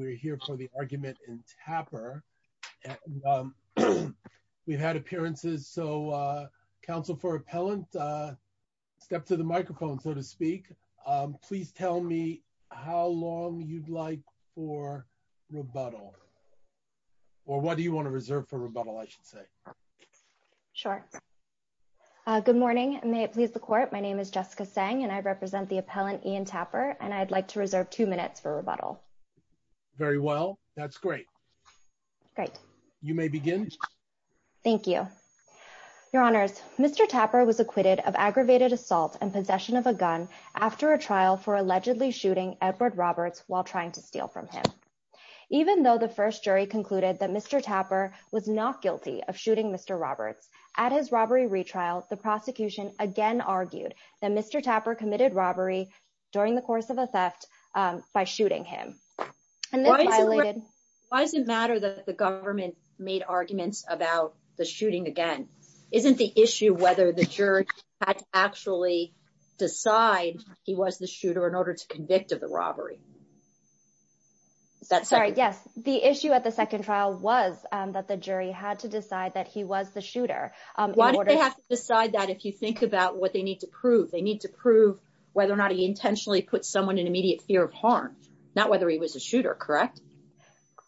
We're here for the argument in Tapper. We've had appearances, so Council for Appellant, step to the microphone, so to speak. Please tell me how long you'd like for rebuttal, or what do you want to reserve for rebuttal, I should say. Sure. Good morning, may it please the court. My name is Jessica Seng, and I represent the appellant Ian Tapper, and I'd like to reserve two minutes for rebuttal. Very well, that's great. Great. You may begin. Thank you. Your honors, Mr. Tapper was acquitted of aggravated assault and possession of a gun after a trial for allegedly shooting Edward Roberts while trying to steal from him. Even though the first jury concluded that Mr. Tapper was not guilty of shooting Mr. Roberts, at his robbery retrial, the prosecution again argued that Mr. Tapper committed robbery during the course of a theft by shooting him. And this violated- Why does it matter that the government made arguments about the shooting again? Isn't the issue whether the jury had to actually decide he was the shooter in order to convict of the robbery? That's- Sorry, yes, the issue at the second trial was that the jury had to decide that he was the shooter. Why did they have to decide that if you think about what they need to prove? They need to prove whether or not he intentionally put someone in immediate fear of harm, not whether he was a shooter, correct?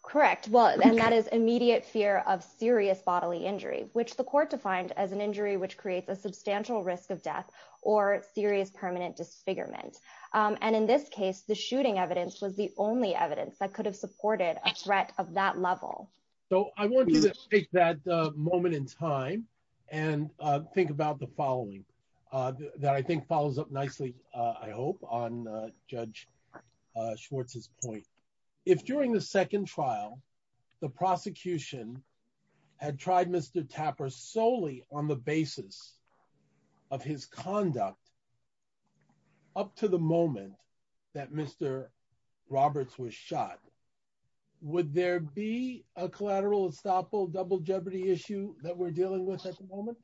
Correct. Well, and that is immediate fear of serious bodily injury, which the court defined as an injury which creates a substantial risk of death or serious permanent disfigurement. And in this case, the shooting evidence was the only evidence that could have supported a threat of that level. So I want you to take that moment in time and think about the following that I think follows up nicely, I hope, on Judge Schwartz's point. If during the second trial, the prosecution had tried Mr. Tapper solely on the basis of his conduct up to the moment that Mr. Roberts was shot, would there be a collateral estoppel double jeopardy issue that we're dealing with at the moment?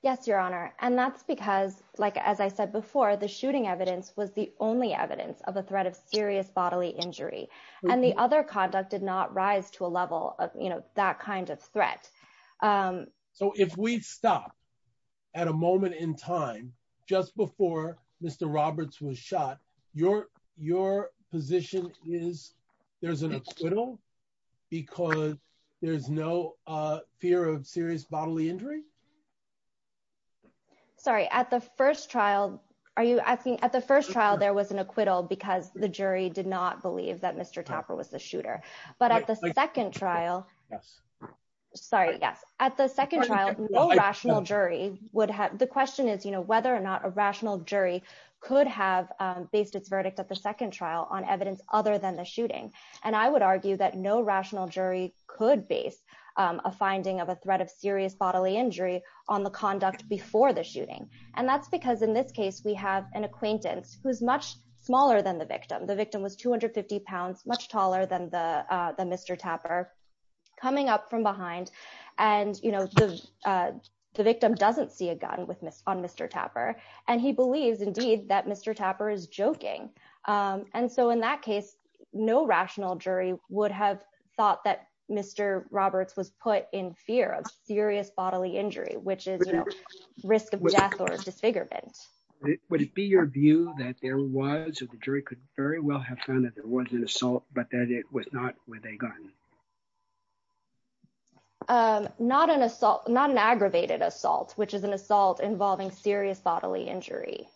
Yes, Your Honor. And that's because, as I said before, the shooting evidence was the only evidence of a threat of serious bodily injury. And the other conduct did not rise to a level of that kind of threat. So if we stop at a moment in time just before Mr. Roberts was shot, your position is there's an acquittal because there's no fear of serious bodily injury? Sorry, at the first trial, are you asking? At the first trial, there was an acquittal because the jury did not believe that Mr. Tapper was the shooter. But at the second trial, sorry, yes. At the second trial, no rational jury would have, the question is whether or not a rational jury could have based its verdict at the second trial on evidence other than the shooting. And I would argue that no rational jury could base a finding of a threat of serious bodily injury on the conduct before the shooting. And that's because in this case, we have an acquaintance who's much smaller than the victim. The victim was 250 pounds, much taller than the Mr. Tapper coming up from behind. And the victim doesn't see a gun on Mr. Tapper. And he believes indeed that Mr. Tapper is joking. would have thought that Mr. Roberts was put in fear of serious bodily injury, which is risk of death or disfigurement. Would it be your view that there was, or the jury could very well have found that there was an assault, but that it was not with a gun? Not an assault, not an aggravated assault, which is an assault involving serious bodily injury.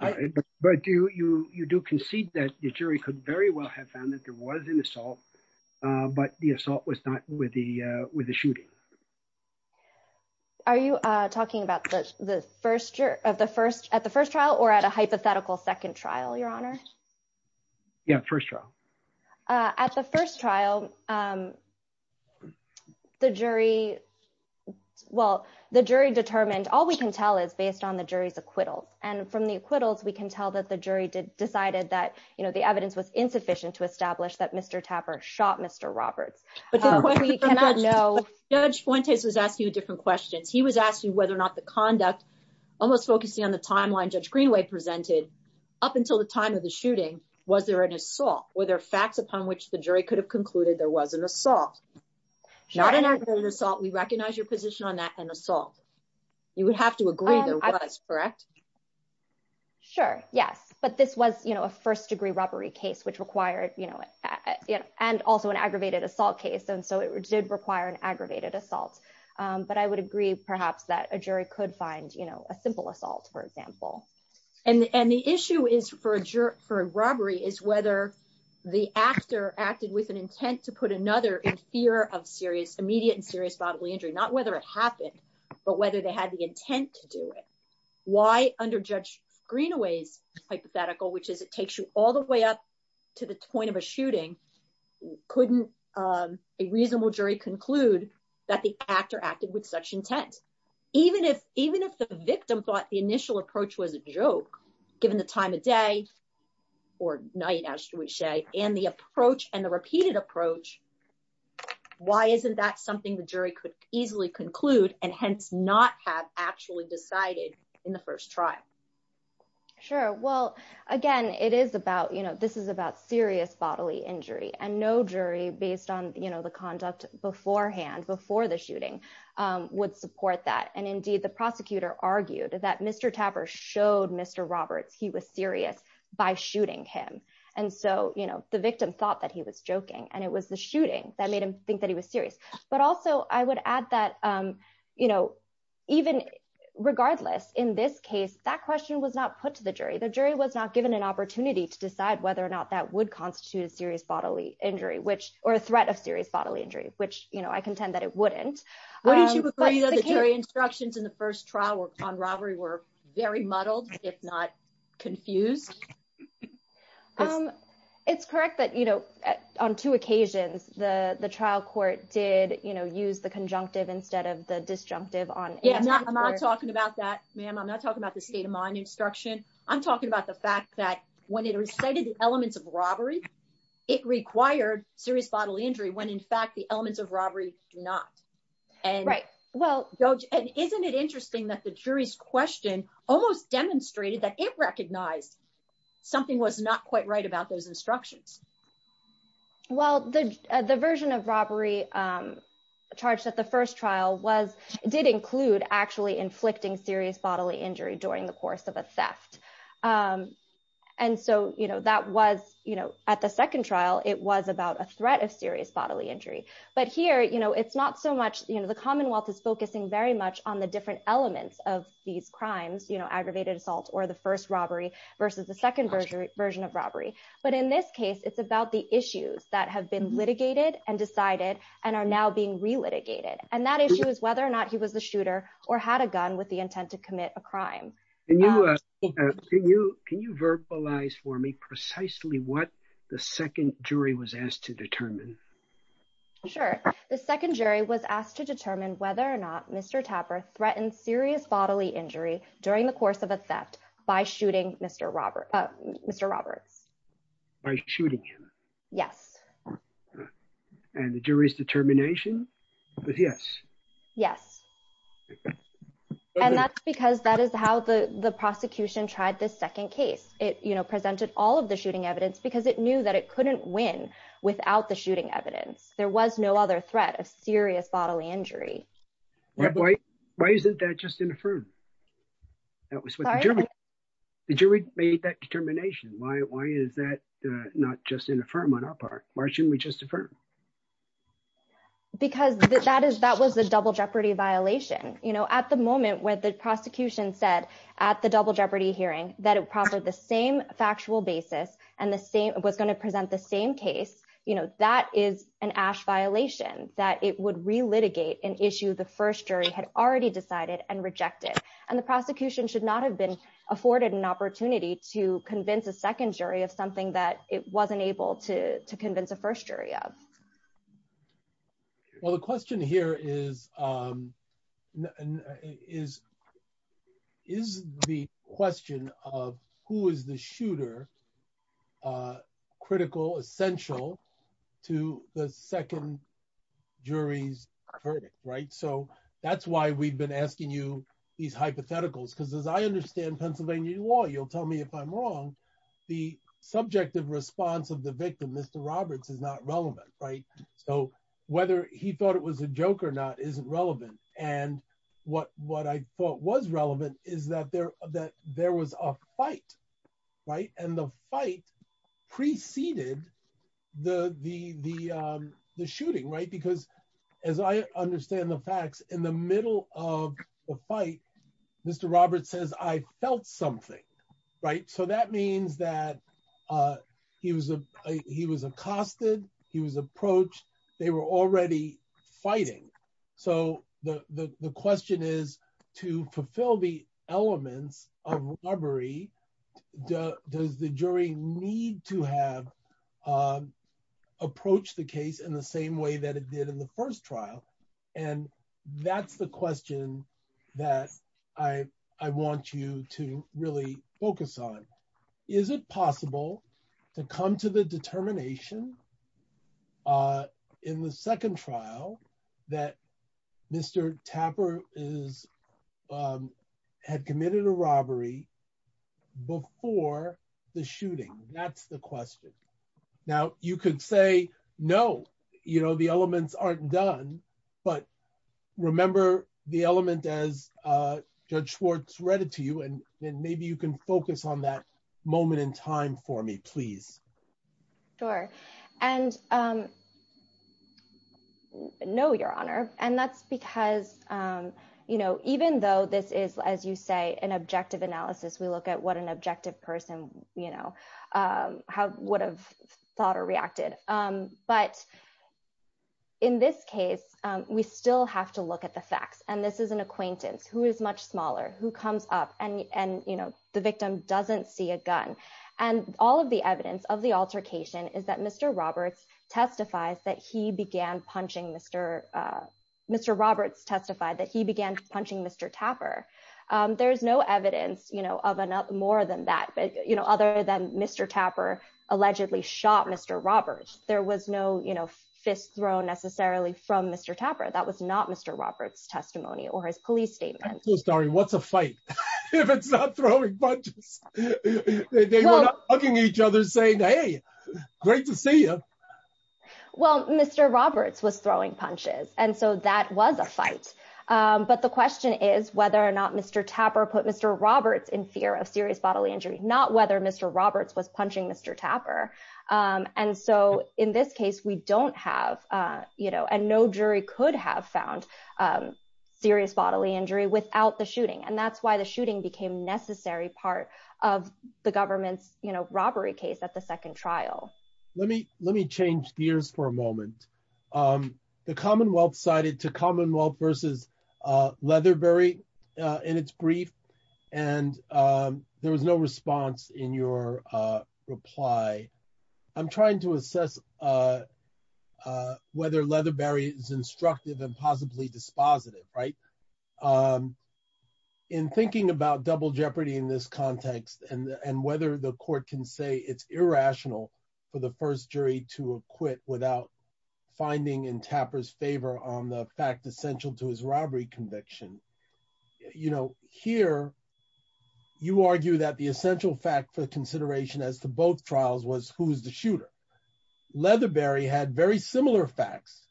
But you do concede that the jury could very well have found that there was an assault, but the assault was not with the shooting. Are you talking about at the first trial or at a hypothetical second trial, Your Honor? Yeah, first trial. At the first trial, the jury determined, all we can tell is based on the jury's acquittals. And from the acquittals, we can tell that the jury decided that the evidence was insufficient to establish that Mr. Tapper shot Mr. Roberts. But the question for Judge Fuentes was asking you different questions. He was asking whether or not the conduct, almost focusing on the timeline Judge Greenway presented, up until the time of the shooting, was there an assault? Were there facts upon which the jury could have concluded there was an assault? Not an aggravated assault, we recognize your position on that, an assault. You would have to agree there was, correct? Sure, yes. But this was a first degree robbery case, which required, and also an aggravated assault case. And so it did require an aggravated assault. But I would agree, perhaps, that a jury could find a simple assault, for example. And the issue is for a robbery is whether the actor acted with an intent to put another in fear of immediate and serious bodily injury. Not whether it happened, but whether they had the intent to do it. Why under Judge Greenway's hypothetical, which is it takes you all the way up to the point of a shooting, couldn't a reasonable jury conclude that the actor acted with such intent? Even if the victim thought the initial approach was a joke, given the time of day, or night as we say, and the approach and the repeated approach, why isn't that something the jury could easily conclude and hence not have actually decided in the first trial? Sure, well, again, it is about, this is about serious bodily injury and no jury based on the conduct beforehand, before the shooting would support that. And indeed the prosecutor argued that Mr. Tapper showed Mr. Roberts he was serious by shooting him. And so the victim thought that he was joking and it was the shooting that made him think that he was serious. But also I would add that, even regardless in this case, that question was not put to the jury. The jury was not given an opportunity to decide whether or not that would constitute a serious bodily injury, or a threat of serious bodily injury, which I contend that it wouldn't. Would you agree that the jury instructions in the first trial on robbery were very muddled, if not confused? It's correct that on two occasions, the trial court did use the conjunctive instead of the disjunctive on- Yeah, I'm not talking about that, ma'am. I'm not talking about the state of mind instruction. I'm talking about the fact that when it recited the elements of robbery, it required serious bodily injury when in fact the elements of robbery do not. And isn't it interesting that the jury's question almost demonstrated that it recognized something was not quite right about those instructions? Well, the version of robbery charged at the first trial did include actually inflicting serious bodily injury during the course of a theft. And so that was, at the second trial, it was about a threat of serious bodily injury. But here, it's not so much, the Commonwealth is focusing very much on the different elements of these crimes, aggravated assault or the first robbery versus the second version of robbery. But in this case, it's about the issues that have been litigated and decided and are now being re-litigated. And that issue is whether or not he was the shooter or had a gun with the intent to commit a crime. Can you verbalize for me precisely what the second jury was asked to determine? Sure. The second jury was asked to determine whether or not Mr. Tapper threatened serious bodily injury during the course of a theft by shooting Mr. Roberts. By shooting him? Yes. And the jury's determination? Yes. Yes. And that's because that is how the prosecution tried this second case. It presented all of the shooting evidence because it knew that it couldn't win without the shooting evidence. There was no other threat of serious bodily injury. Why isn't that just an affirm? That was what the jury- Sorry? The jury made that determination. Why is that not just an affirm on our part? Why shouldn't we just affirm? Because that was the double jeopardy violation. At the moment where the prosecution said at the double jeopardy hearing that it proffered the same factual basis and was gonna present the same case, that is an ash violation, that it would re-litigate an issue the first jury had already decided and rejected. And the prosecution should not have been afforded an opportunity to convince a second jury of something that it wasn't able to convince a first jury of. Well, the question here is, is the question of who is the shooter critical, essential to the second jury's verdict, right? So that's why we've been asking you these hypotheticals. Because as I understand Pennsylvania law, you'll tell me if I'm wrong, the subjective response of the victim, Mr. Roberts, is not relevant, right? So whether he thought it was a joke or not, isn't relevant. And what I thought was relevant is that there was a fight, right? And the fight preceded the shooting, right? Because as I understand the facts, in the middle of the fight, Mr. Roberts says, I felt something, right? So that means that he was accosted, he was approached, they were already fighting. So the question is, to fulfill the elements of robbery, does the jury need to have approached the case in the same way that it did in the first trial? And that's the question that I want you to really focus on. Is it possible to come to the determination in the second trial that Mr. Tapper had committed a robbery before the shooting? That's the question. Now you could say, no, the elements aren't done, but remember the element as Judge Schwartz read it to you, and maybe you can focus on that moment in time for me, please. Sure. And no, Your Honor. And that's because even though this is, as you say, an objective analysis, we look at what an objective person would have thought or reacted. But in this case, we still have to look at the facts. And this is an acquaintance who is much smaller, who comes up and the victim doesn't see a gun. And all of the evidence of the altercation is that Mr. Roberts testifies that he began punching Mr., Mr. Roberts testified that he began punching Mr. Tapper. There's no evidence of more than that, other than Mr. Tapper allegedly shot Mr. Roberts. There was no fist thrown necessarily from Mr. Tapper. That was not Mr. Roberts' testimony or his police statement. So, Starry, what's a fight? If it's not throwing punches, they were not hugging each other saying, hey, great to see you. Well, Mr. Roberts was throwing punches. And so that was a fight. But the question is whether or not Mr. Tapper put Mr. Roberts in fear of serious bodily injury, not whether Mr. Roberts was punching Mr. Tapper. And so in this case, we don't have, and no jury could have found serious bodily injury without the shooting. And that's why the shooting became necessary part of the government's robbery case at the second trial. Let me change gears for a moment. The Commonwealth sided to Commonwealth versus Leatherberry in its brief. And there was no response in your reply. I'm trying to assess whether Leatherberry is instructive and possibly dispositive, right? In thinking about double jeopardy in this context and whether the court can say it's irrational for the first jury to acquit without finding in Tapper's favor on the fact essential to his robbery conviction. Here, you argue that the essential fact for consideration as to both trials was who's the shooter. Leatherberry had very similar facts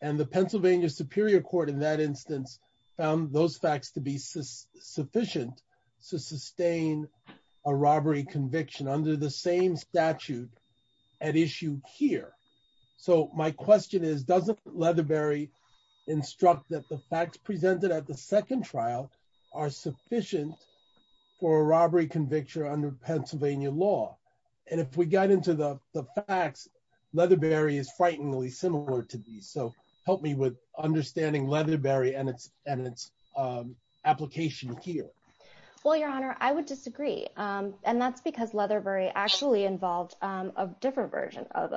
and the Pennsylvania Superior Court in that instance found those facts to be sufficient to sustain a robbery conviction under the same statute at issue here. So my question is, doesn't Leatherberry instruct that the facts presented at the second trial are sufficient for a robbery conviction under Pennsylvania law? And if we got into the facts, Leatherberry is frighteningly similar to these. So help me with understanding Leatherberry and its application here. Well, your honor, I would disagree. And that's because Leatherberry actually involved a different version of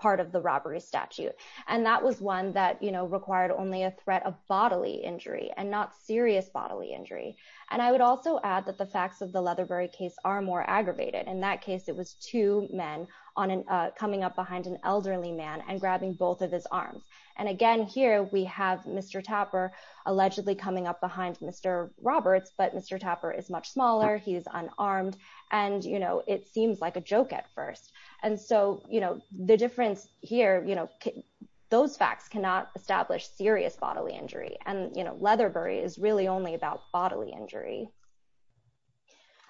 part of the robbery statute. And that was one that required only a threat of bodily injury and not serious bodily injury. And I would also add that the facts of the Leatherberry case are more aggravated. In that case, it was two men coming up behind an elderly man and grabbing both of his arms. And again, here we have Mr. Tapper allegedly coming up behind Mr. Roberts, but Mr. Tapper is much smaller, he's unarmed and it seems like a joke at first. And so the difference here, those facts cannot establish serious bodily injury and Leatherberry is really only about bodily injury.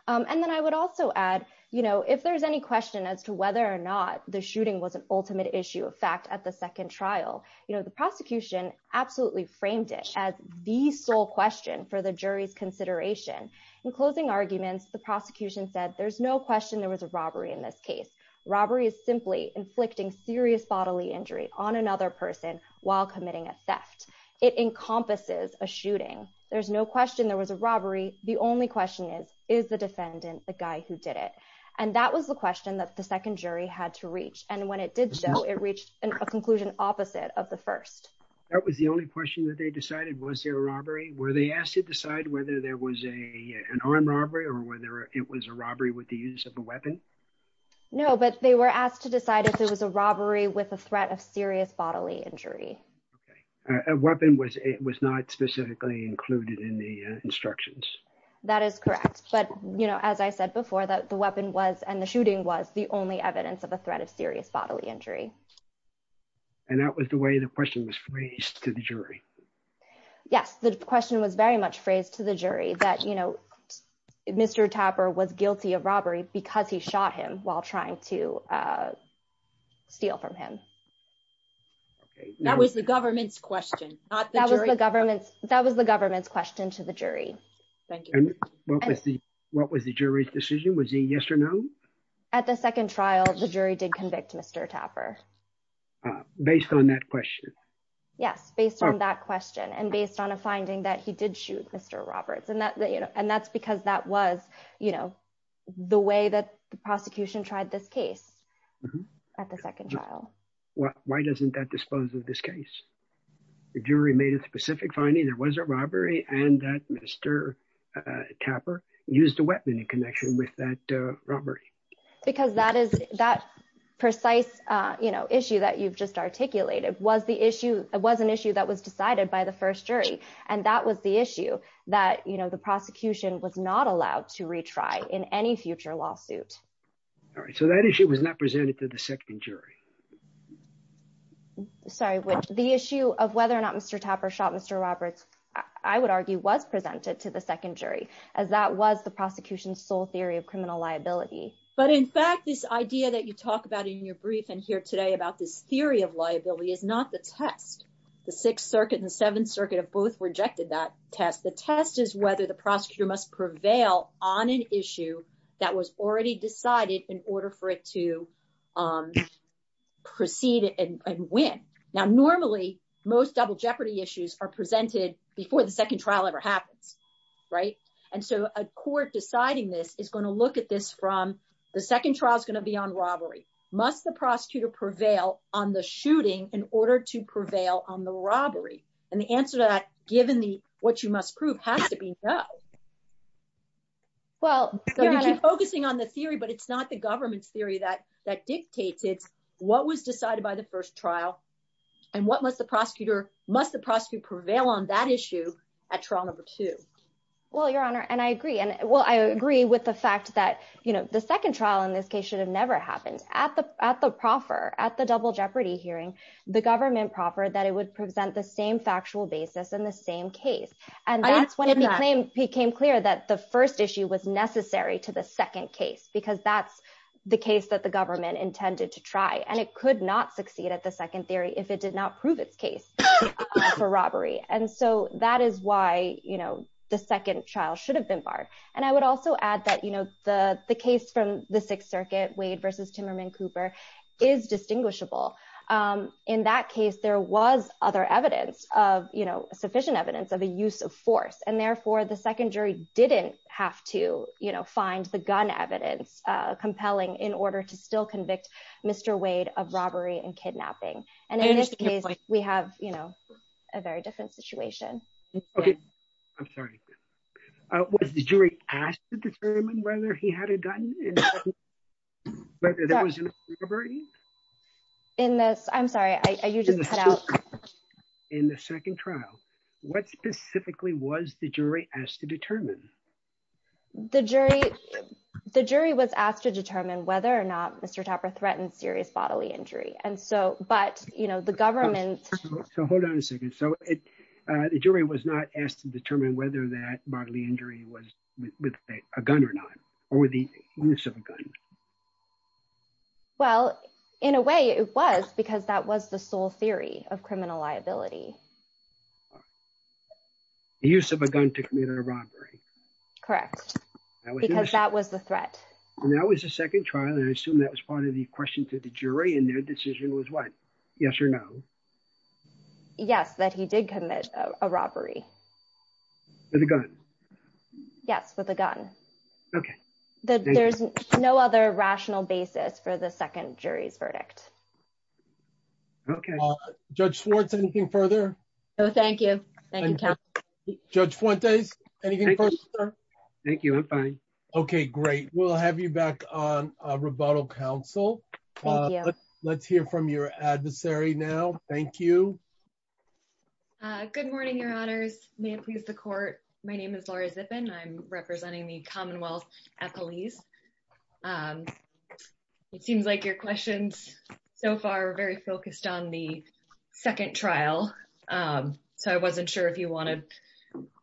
And then I would also add, if there's any question as to whether or not the shooting was an ultimate issue of fact at the second trial, the prosecution absolutely framed it as the sole question for the jury's consideration. In closing arguments, the prosecution said, there's no question there was a robbery in this case. Robbery is simply inflicting serious bodily injury on another person while committing a theft. It encompasses a shooting. There's no question there was a robbery. The only question is, is the defendant the guy who did it? And that was the question that the second jury had to reach. And when it did show, it reached a conclusion opposite of the first. That was the only question that they decided, was there a robbery? Were they asked to decide whether there was an armed robbery or whether it was a robbery with the use of a weapon? No, but they were asked to decide if there was a robbery with a threat of serious bodily injury. Okay. A weapon was not specifically included in the instructions. That is correct. But as I said before, the weapon was, and the shooting was the only evidence of a threat of serious bodily injury. And that was the way the question was phrased to the jury. Yes, the question was very much phrased to the jury that, you know, Mr. Tapper was guilty of robbery because he shot him while trying to steal from him. Okay. That was the government's question, not the jury. That was the government's question to the jury. Thank you. And what was the jury's decision? Was he yes or no? At the second trial, the jury did convict Mr. Tapper. Based on that question? Yes, based on that question. And based on a finding that he did shoot Mr. Roberts. And that's because that was, you know, the way that the prosecution tried this case at the second trial. Why doesn't that dispose of this case? The jury made a specific finding. There was a robbery and that Mr. Tapper used a weapon in connection with that robbery. Because that precise, you know, issue that you've just articulated was an issue that was decided by the first jury. And that was the issue that, you know, the prosecution was not allowed to retry in any future lawsuit. All right, so that issue was not presented to the second jury. Sorry, the issue of whether or not Mr. Tapper shot Mr. Roberts, I would argue, was presented to the second jury as that was the prosecution's sole theory of criminal liability. But in fact, this idea that you talk about in your brief and here today about this theory of liability is not the test. The Sixth Circuit and the Seventh Circuit have both rejected that test. The test is whether the prosecutor must prevail on an issue that was already decided in order for it to proceed and win. Now, normally, most double jeopardy issues are presented before the second trial ever happens, right? And so a court deciding this is gonna look at this from, the second trial is gonna be on robbery. Must the prosecutor prevail on the shooting in order to prevail on the robbery? And the answer to that, given what you must prove, has to be no. Well, so we keep focusing on the theory, but it's not the government's theory that dictates it. What was decided by the first trial and what must the prosecutor, must the prosecutor prevail on that issue at trial number two? Well, Your Honor, and I agree. Well, I agree with the fact that the second trial in this case should have never happened. At the proffer, at the double jeopardy hearing, the government proffered that it would present the same factual basis in the same case. And that's when it became clear that the first issue was necessary to the second case because that's the case that the government intended to try and it could not succeed at the second theory if it did not prove its case for robbery. And so that is why the second trial should have been barred. And I would also add that the case from the Sixth Circuit, Wade versus Timmerman Cooper is distinguishable. In that case, there was other evidence of, sufficient evidence of a use of force. And therefore the second jury didn't have to find the gun evidence compelling in order to still convict Mr. Wade of robbery and kidnapping. And in this case, we have, you know, a very different situation. Okay. I'm sorry. Was the jury asked to determine whether he had a gun and whether there was a robbery? In this, I'm sorry, I usually cut out. In the second trial, what specifically was the jury asked to determine? The jury was asked to determine whether or not Mr. Tapper threatened serious bodily injury. And so, but, you know, the government. So hold on a second. So the jury was not asked to determine whether that bodily injury was with a gun or not or with the use of a gun. Well, in a way it was, because that was the sole theory of criminal liability. The use of a gun to commit a robbery. Correct. Because that was the threat. And that was the second trial. And I assume that was part of the question to the jury and their decision was what? Yes or no? Yes, that he did commit a robbery. With a gun? Yes, with a gun. Okay. There's no other rational basis for the second jury's verdict. Okay. Judge Schwartz, anything further? No, thank you. Judge Fuentes, anything further? Thank you, I'm fine. Okay, great. We'll have you back on rebuttal council. Let's hear from your adversary now. Thank you. Good morning, your honors. May it please the court. My name is Laura Zippin. I'm representing the Commonwealth at police. It seems like your questions so far are very focused on the second trial. So I wasn't sure if you wanted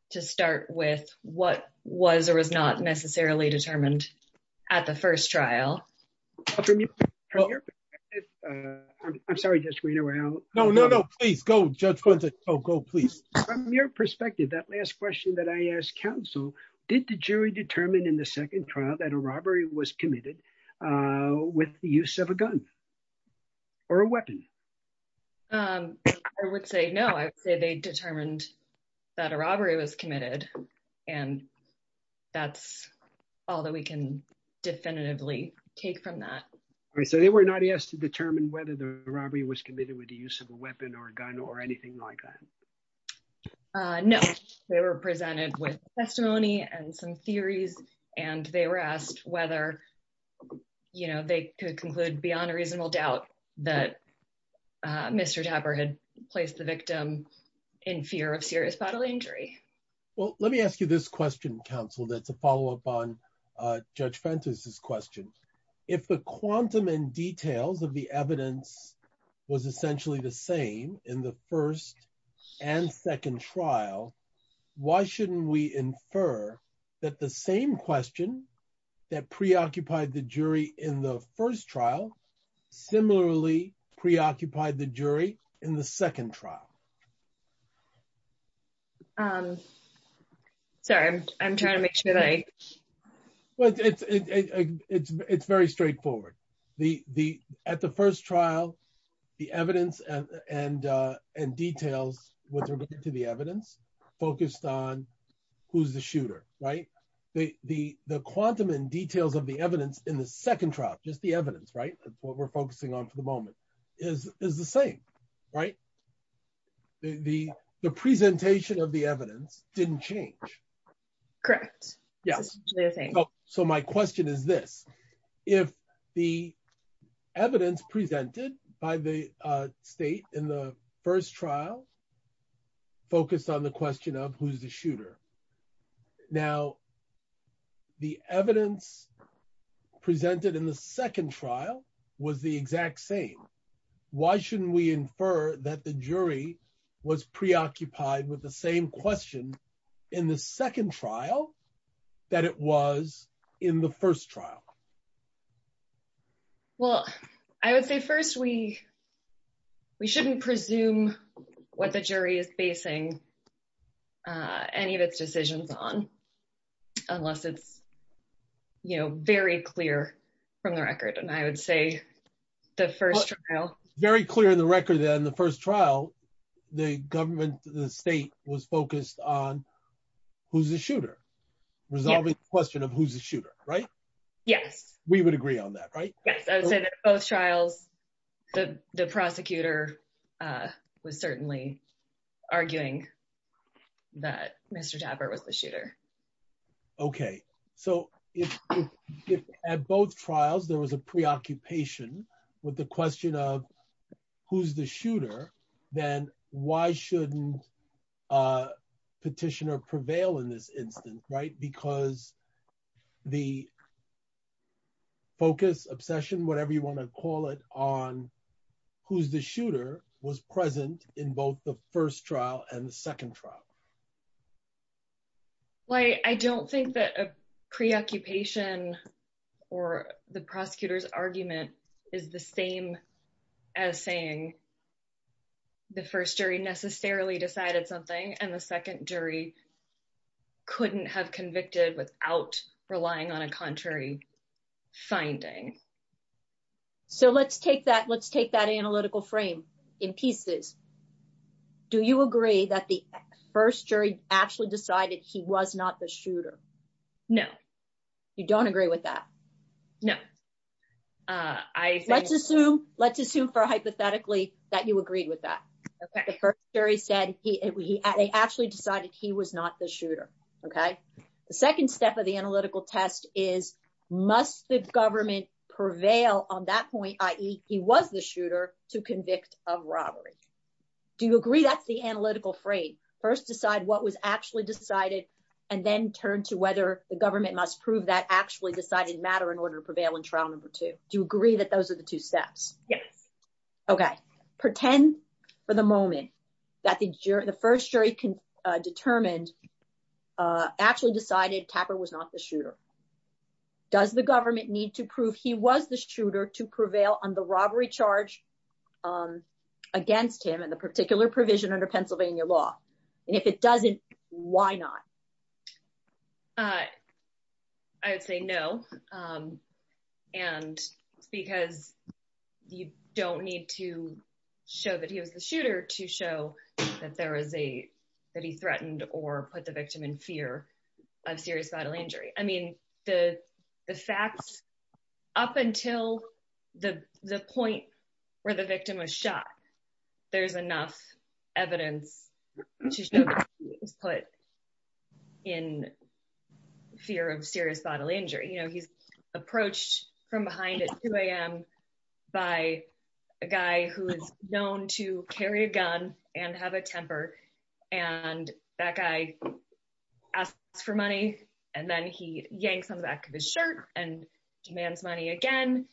to start with what was or was not necessarily determined at the first trial. I'm sorry, Judge Reno. No, no, no, please go Judge Fuentes. Oh, go please. From your perspective, that last question that I asked council, did the jury determine in the second trial that a robbery was committed with the use of a gun? Or a weapon? I would say no. I would say they determined that a robbery was committed. And that's all that we can definitively take from that. All right, so they were not asked to determine whether the robbery was committed with the use of a weapon or a gun or anything like that? No, they were presented with testimony and some theories. And they were asked whether, you know, they could conclude beyond a reasonable doubt that Mr. Tapper had placed the victim in fear of serious bodily injury. Well, let me ask you this question, counsel, that's a follow-up on Judge Fuentes' question. If the quantum and details of the evidence was essentially the same in the first and second trial, why shouldn't we infer that the same question that preoccupied the jury in the first trial similarly preoccupied the jury in the second trial? Sorry, I'm trying to make sure that I... Well, it's very straightforward. At the first trial, the evidence and details with regard to the evidence focused on who's the shooter, right? The quantum and details of the evidence in the second trial, just the evidence, right? What we're focusing on for the moment is the same, right? The presentation of the evidence didn't change. Correct. Yes. So my question is this, if the evidence presented by the state in the first trial focused on the question of who's the shooter, now the evidence presented in the second trial was the exact same, why shouldn't we infer that the jury was preoccupied with the same question in the second trial that it was in the first trial? Well, I would say first, we shouldn't presume what the jury is basing any of its decisions on unless it's very clear from the record. And I would say the first trial- Very clear in the record that in the first trial, the government, the state was focused on who's the shooter, resolving the question of who's the shooter, right? Yes. We would agree on that, right? Yes, I would say that both trials, the prosecutor was certainly arguing that Mr. Tapper was the shooter. Okay. So if at both trials, there was a preoccupation with the question of who's the shooter, then why shouldn't a petitioner prevail in this instance, right? Because the focus, obsession, whatever you want to call it, on who's the shooter was present in both the first trial and the second trial. Well, I don't think that a preoccupation or the prosecutor's argument is the same as saying the first jury necessarily decided something and the second jury couldn't have convicted without relying on a contrary finding. So let's take that analytical frame in pieces. Do you agree that the first jury actually decided he was not the shooter? No. You don't agree with that? No. Let's assume for hypothetically that you agreed with that. The first jury said they actually decided he was not the shooter, okay? The second step of the analytical test is must the government prevail on that point, i.e. he was the shooter, to convict of robbery. Do you agree that's the analytical frame? First decide what was actually decided and then turn to whether the government must prove that actually decided matter in order to prevail in trial number two. Do you agree that those are the two steps? Yes. Okay. Pretend for the moment that the first jury determined, actually decided Tapper was not the shooter. Does the government need to prove he was the shooter to prevail on the robbery charge against him and the particular provision under Pennsylvania law? And if it doesn't, why not? I would say no. And because you don't need to show that he was the shooter to show that he threatened or put the victim in fear of serious bodily injury. I mean, the facts up until the point where the victim was shot, there's enough evidence to show that he was put in fear of serious bodily injury. You know, he's approached from behind at 2 a.m. by a guy who is known to carry a gun and have a temper. And that guy asked for money and then he yanks on the back of his shirt and demands money again.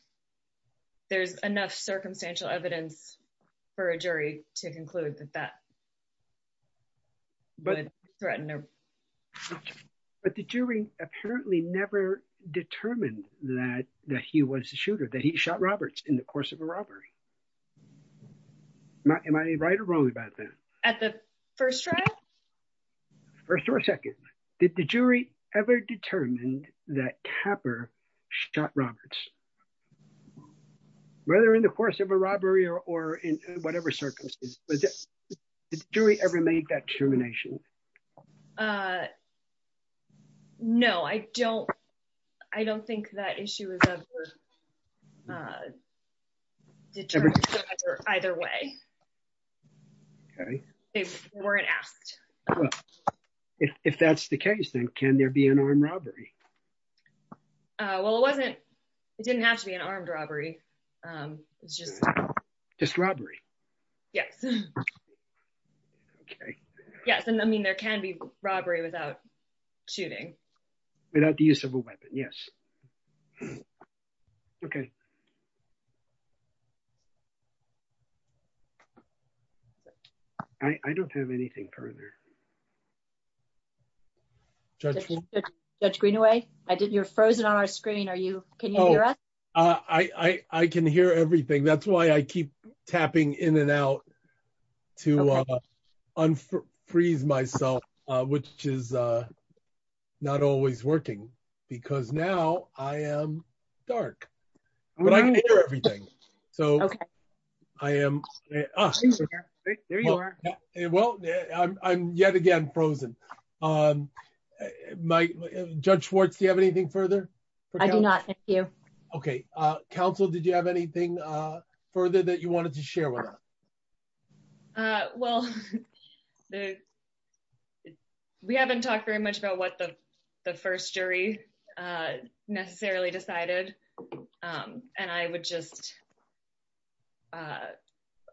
There's enough circumstantial evidence for a jury to conclude that that would threaten him. But the jury apparently never determined that he was the shooter, that he shot Roberts in the course of a robbery. Am I right or wrong about that? At the first trial? First or second. Did the jury ever determined that Tapper shot Roberts? Whether in the course of a robbery or in whatever circumstances but did the jury ever make that determination? No, I don't think that issue is ever determined either way. Okay. They weren't asked. Well, if that's the case, then can there be an armed robbery? Well, it wasn't, it didn't have to be an armed robbery. It's just... Just robbery? Yes. Okay. Yes, and I mean, there can be robbery without shooting. Without the use of a weapon, yes. Okay. I don't have anything further. Judge Greenaway, you're frozen on our screen. Are you, can you hear us? I can hear everything. That's why I keep tapping in and out to unfreeze myself, I'm not sure if you can hear me. But I can hear everything. So I am, ah, there you are. Well, I'm yet again frozen. Judge Schwartz, do you have anything further? I do not, thank you. Okay. Counsel, did you have anything further that you wanted to share with us? Well, we haven't talked very much about what the first jury necessarily decided. And I would just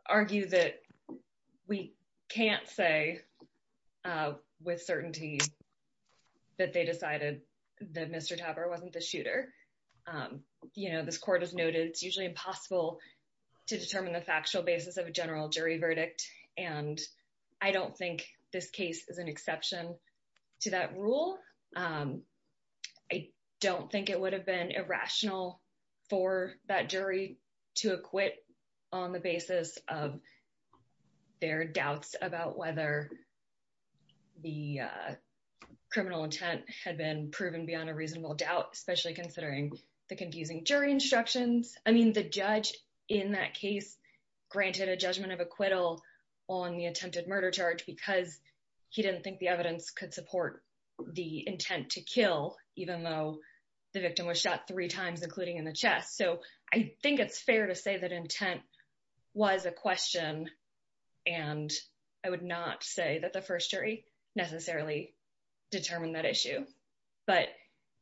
argue that we can't say with certainty that they decided that Mr. Tapper wasn't the shooter. You know, this court has noted, it's usually impossible to determine the factual basis of a general jury verdict. And I don't think this case is an exception to that rule. I don't think it would have been irrational for that jury to acquit on the basis of their doubts about whether the criminal intent had been proven beyond a reasonable doubt, especially considering the confusing jury instructions. I mean, the judge in that case granted a judgment of acquittal on the attempted murder charge could support the intent to kill, even though the victim was shot three times, including in the chest. So I think it's fair to say that intent was a question. And I would not say that the first jury necessarily determined that issue. But-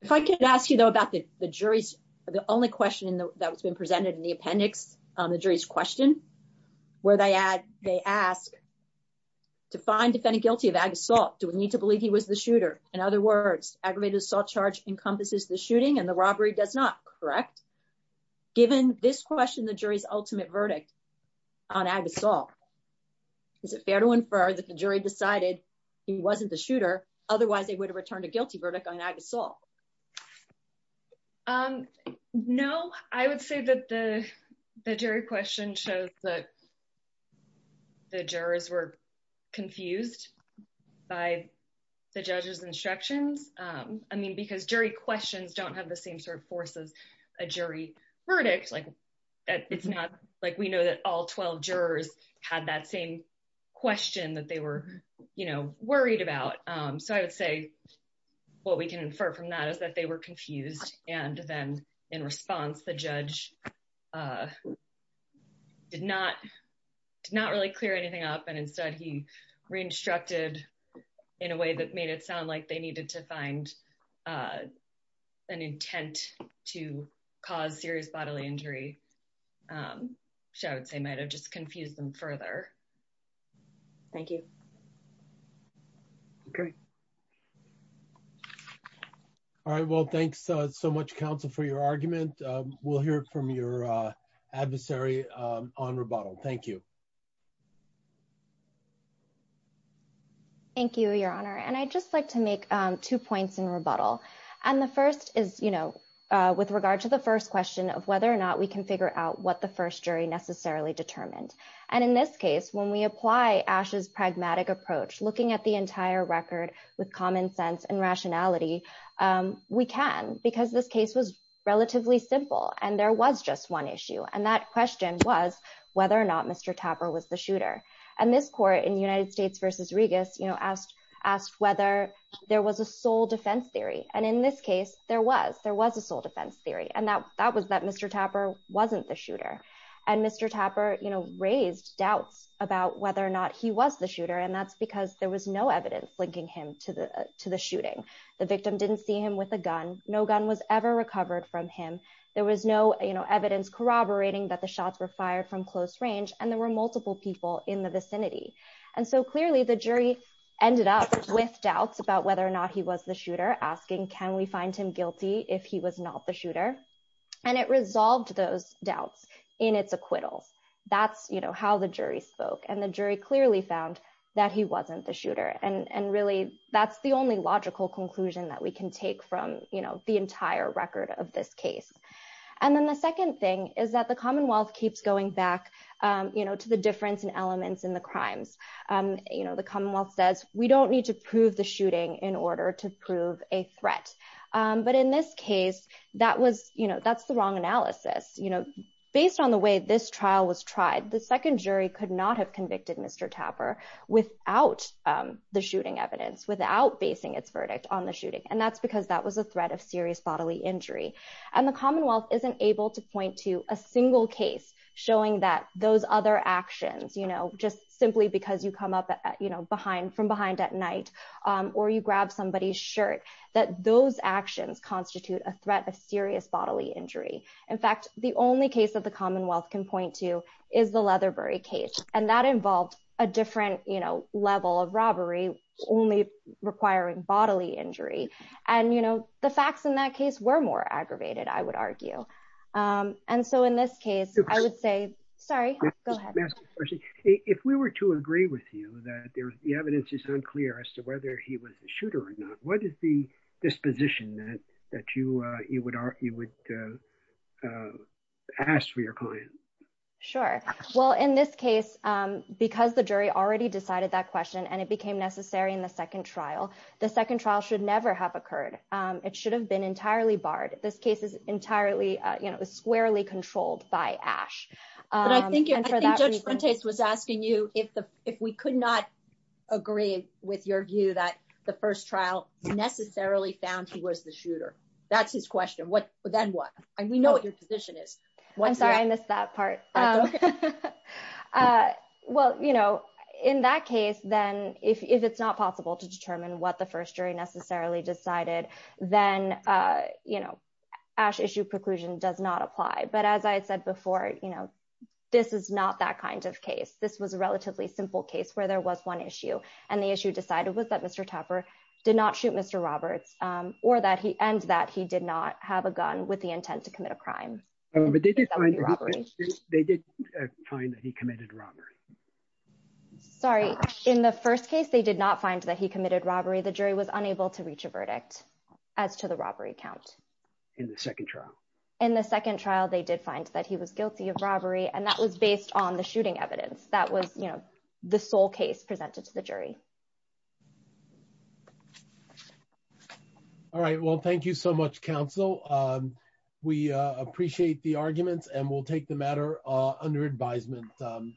If I could ask you though about the jury's, the only question that was being presented in the appendix on the jury's question, where they ask to find defendant guilty of ag assault, do we need to believe he was the shooter? In other words, aggravated assault charge encompasses the shooting and the robbery does not, correct? Given this question, the jury's ultimate verdict on ag assault, is it fair to infer that the jury decided he wasn't the shooter? Otherwise they would have returned a guilty verdict on ag assault. No, I would say that the jury question shows that the jurors were confused by the judge's instructions. I mean, because jury questions don't have the same sort of force as a jury verdict. Like it's not, like we know that all 12 jurors had that same question that they were worried about. So I would say what we can infer from that is that they were confused. And then in response, the judge did not, did not really clear anything up. And instead he re-instructed in a way that made it sound like they needed to find an intent to cause serious bodily injury. So I would say might have just confused them further. Thank you. Great. All right, well, thanks so much counsel for your argument. We'll hear from your adversary on rebuttal. Thank you. Thank you, your honor. And I just like to make two points in rebuttal. And the first is, with regard to the first question of whether or not we can figure out what the first jury necessarily determined. And in this case, when we apply Ash's pragmatic approach, looking at the entire record with common sense and rationality, we can because this case was relatively simple and there was just one issue. And that question was whether or not Mr. Tapper was the shooter. And this court in United States versus Regus asked whether there was a sole defense theory. And in this case, there was a sole defense theory. And that was that Mr. Tapper wasn't the shooter. And Mr. Tapper raised doubts about whether or not he was the shooter. And that's because there was no evidence linking him to the shooting. The victim didn't see him with a gun. No gun was ever recovered from him. There was no evidence corroborating that the shots were fired from close range. And there were multiple people in the vicinity. And so clearly the jury ended up with doubts about whether or not he was the shooter asking, can we find him guilty if he was not the shooter? And it resolved those doubts in its acquittals. That's how the jury spoke. And the jury clearly found that he wasn't the shooter. And really that's the only logical conclusion that we can take from the entire record of this case. And then the second thing is that the Commonwealth keeps going back to the difference in elements in the crimes. The Commonwealth says, we don't need to prove the shooting in order to prove a threat. But in this case, that's the wrong analysis. Based on the way this trial was tried, the second jury could not have convicted Mr. Tapper without the shooting evidence, without basing its verdict on the shooting. And that's because that was a threat of serious bodily injury. And the Commonwealth isn't able to point to a single case showing that those other actions, just simply because you come up from behind at night or you grab somebody's shirt, that those actions constitute a threat of serious bodily injury. In fact, the only case that the Commonwealth can point to is the Leatherbury case. And that involved a different level of robbery only requiring bodily injury. And the facts in that case were more aggravated, I would argue. And so in this case, I would say, sorry, go ahead. If we were to agree with you that the evidence is unclear as to whether he was a shooter or not, what is the disposition that you would ask for your client? Sure. Well, in this case, because the jury already decided that question and it became necessary in the second trial, the second trial should never have occurred. It should have been entirely barred. This case is entirely squarely controlled by Ash. But I think Judge Fuentes was asking you if we could not agree with your view that the first trial necessarily found he was the shooter. That's his question. What, then what? And we know what your position is. I'm sorry, I missed that part. Well, in that case, then if it's not possible to determine what the first jury necessarily decided, then Ash issue preclusion does not apply. But as I had said before, this is not that kind of case. This was a relatively simple case where there was one issue and the issue decided was that Mr. Tapper did not shoot Mr. Roberts or that he ends that he did not have a gun with the intent to commit a crime. But they did find that he committed robbery. Sorry, in the first case, they did not find that he committed robbery. The jury was unable to reach a verdict as to the robbery count. In the second trial. In the second trial, they did find that he was guilty of robbery. And that was based on the shooting evidence. That was the sole case presented to the jury. All right, well, thank you so much, counsel. We appreciate the arguments and we'll take the matter under advisement. Thank you.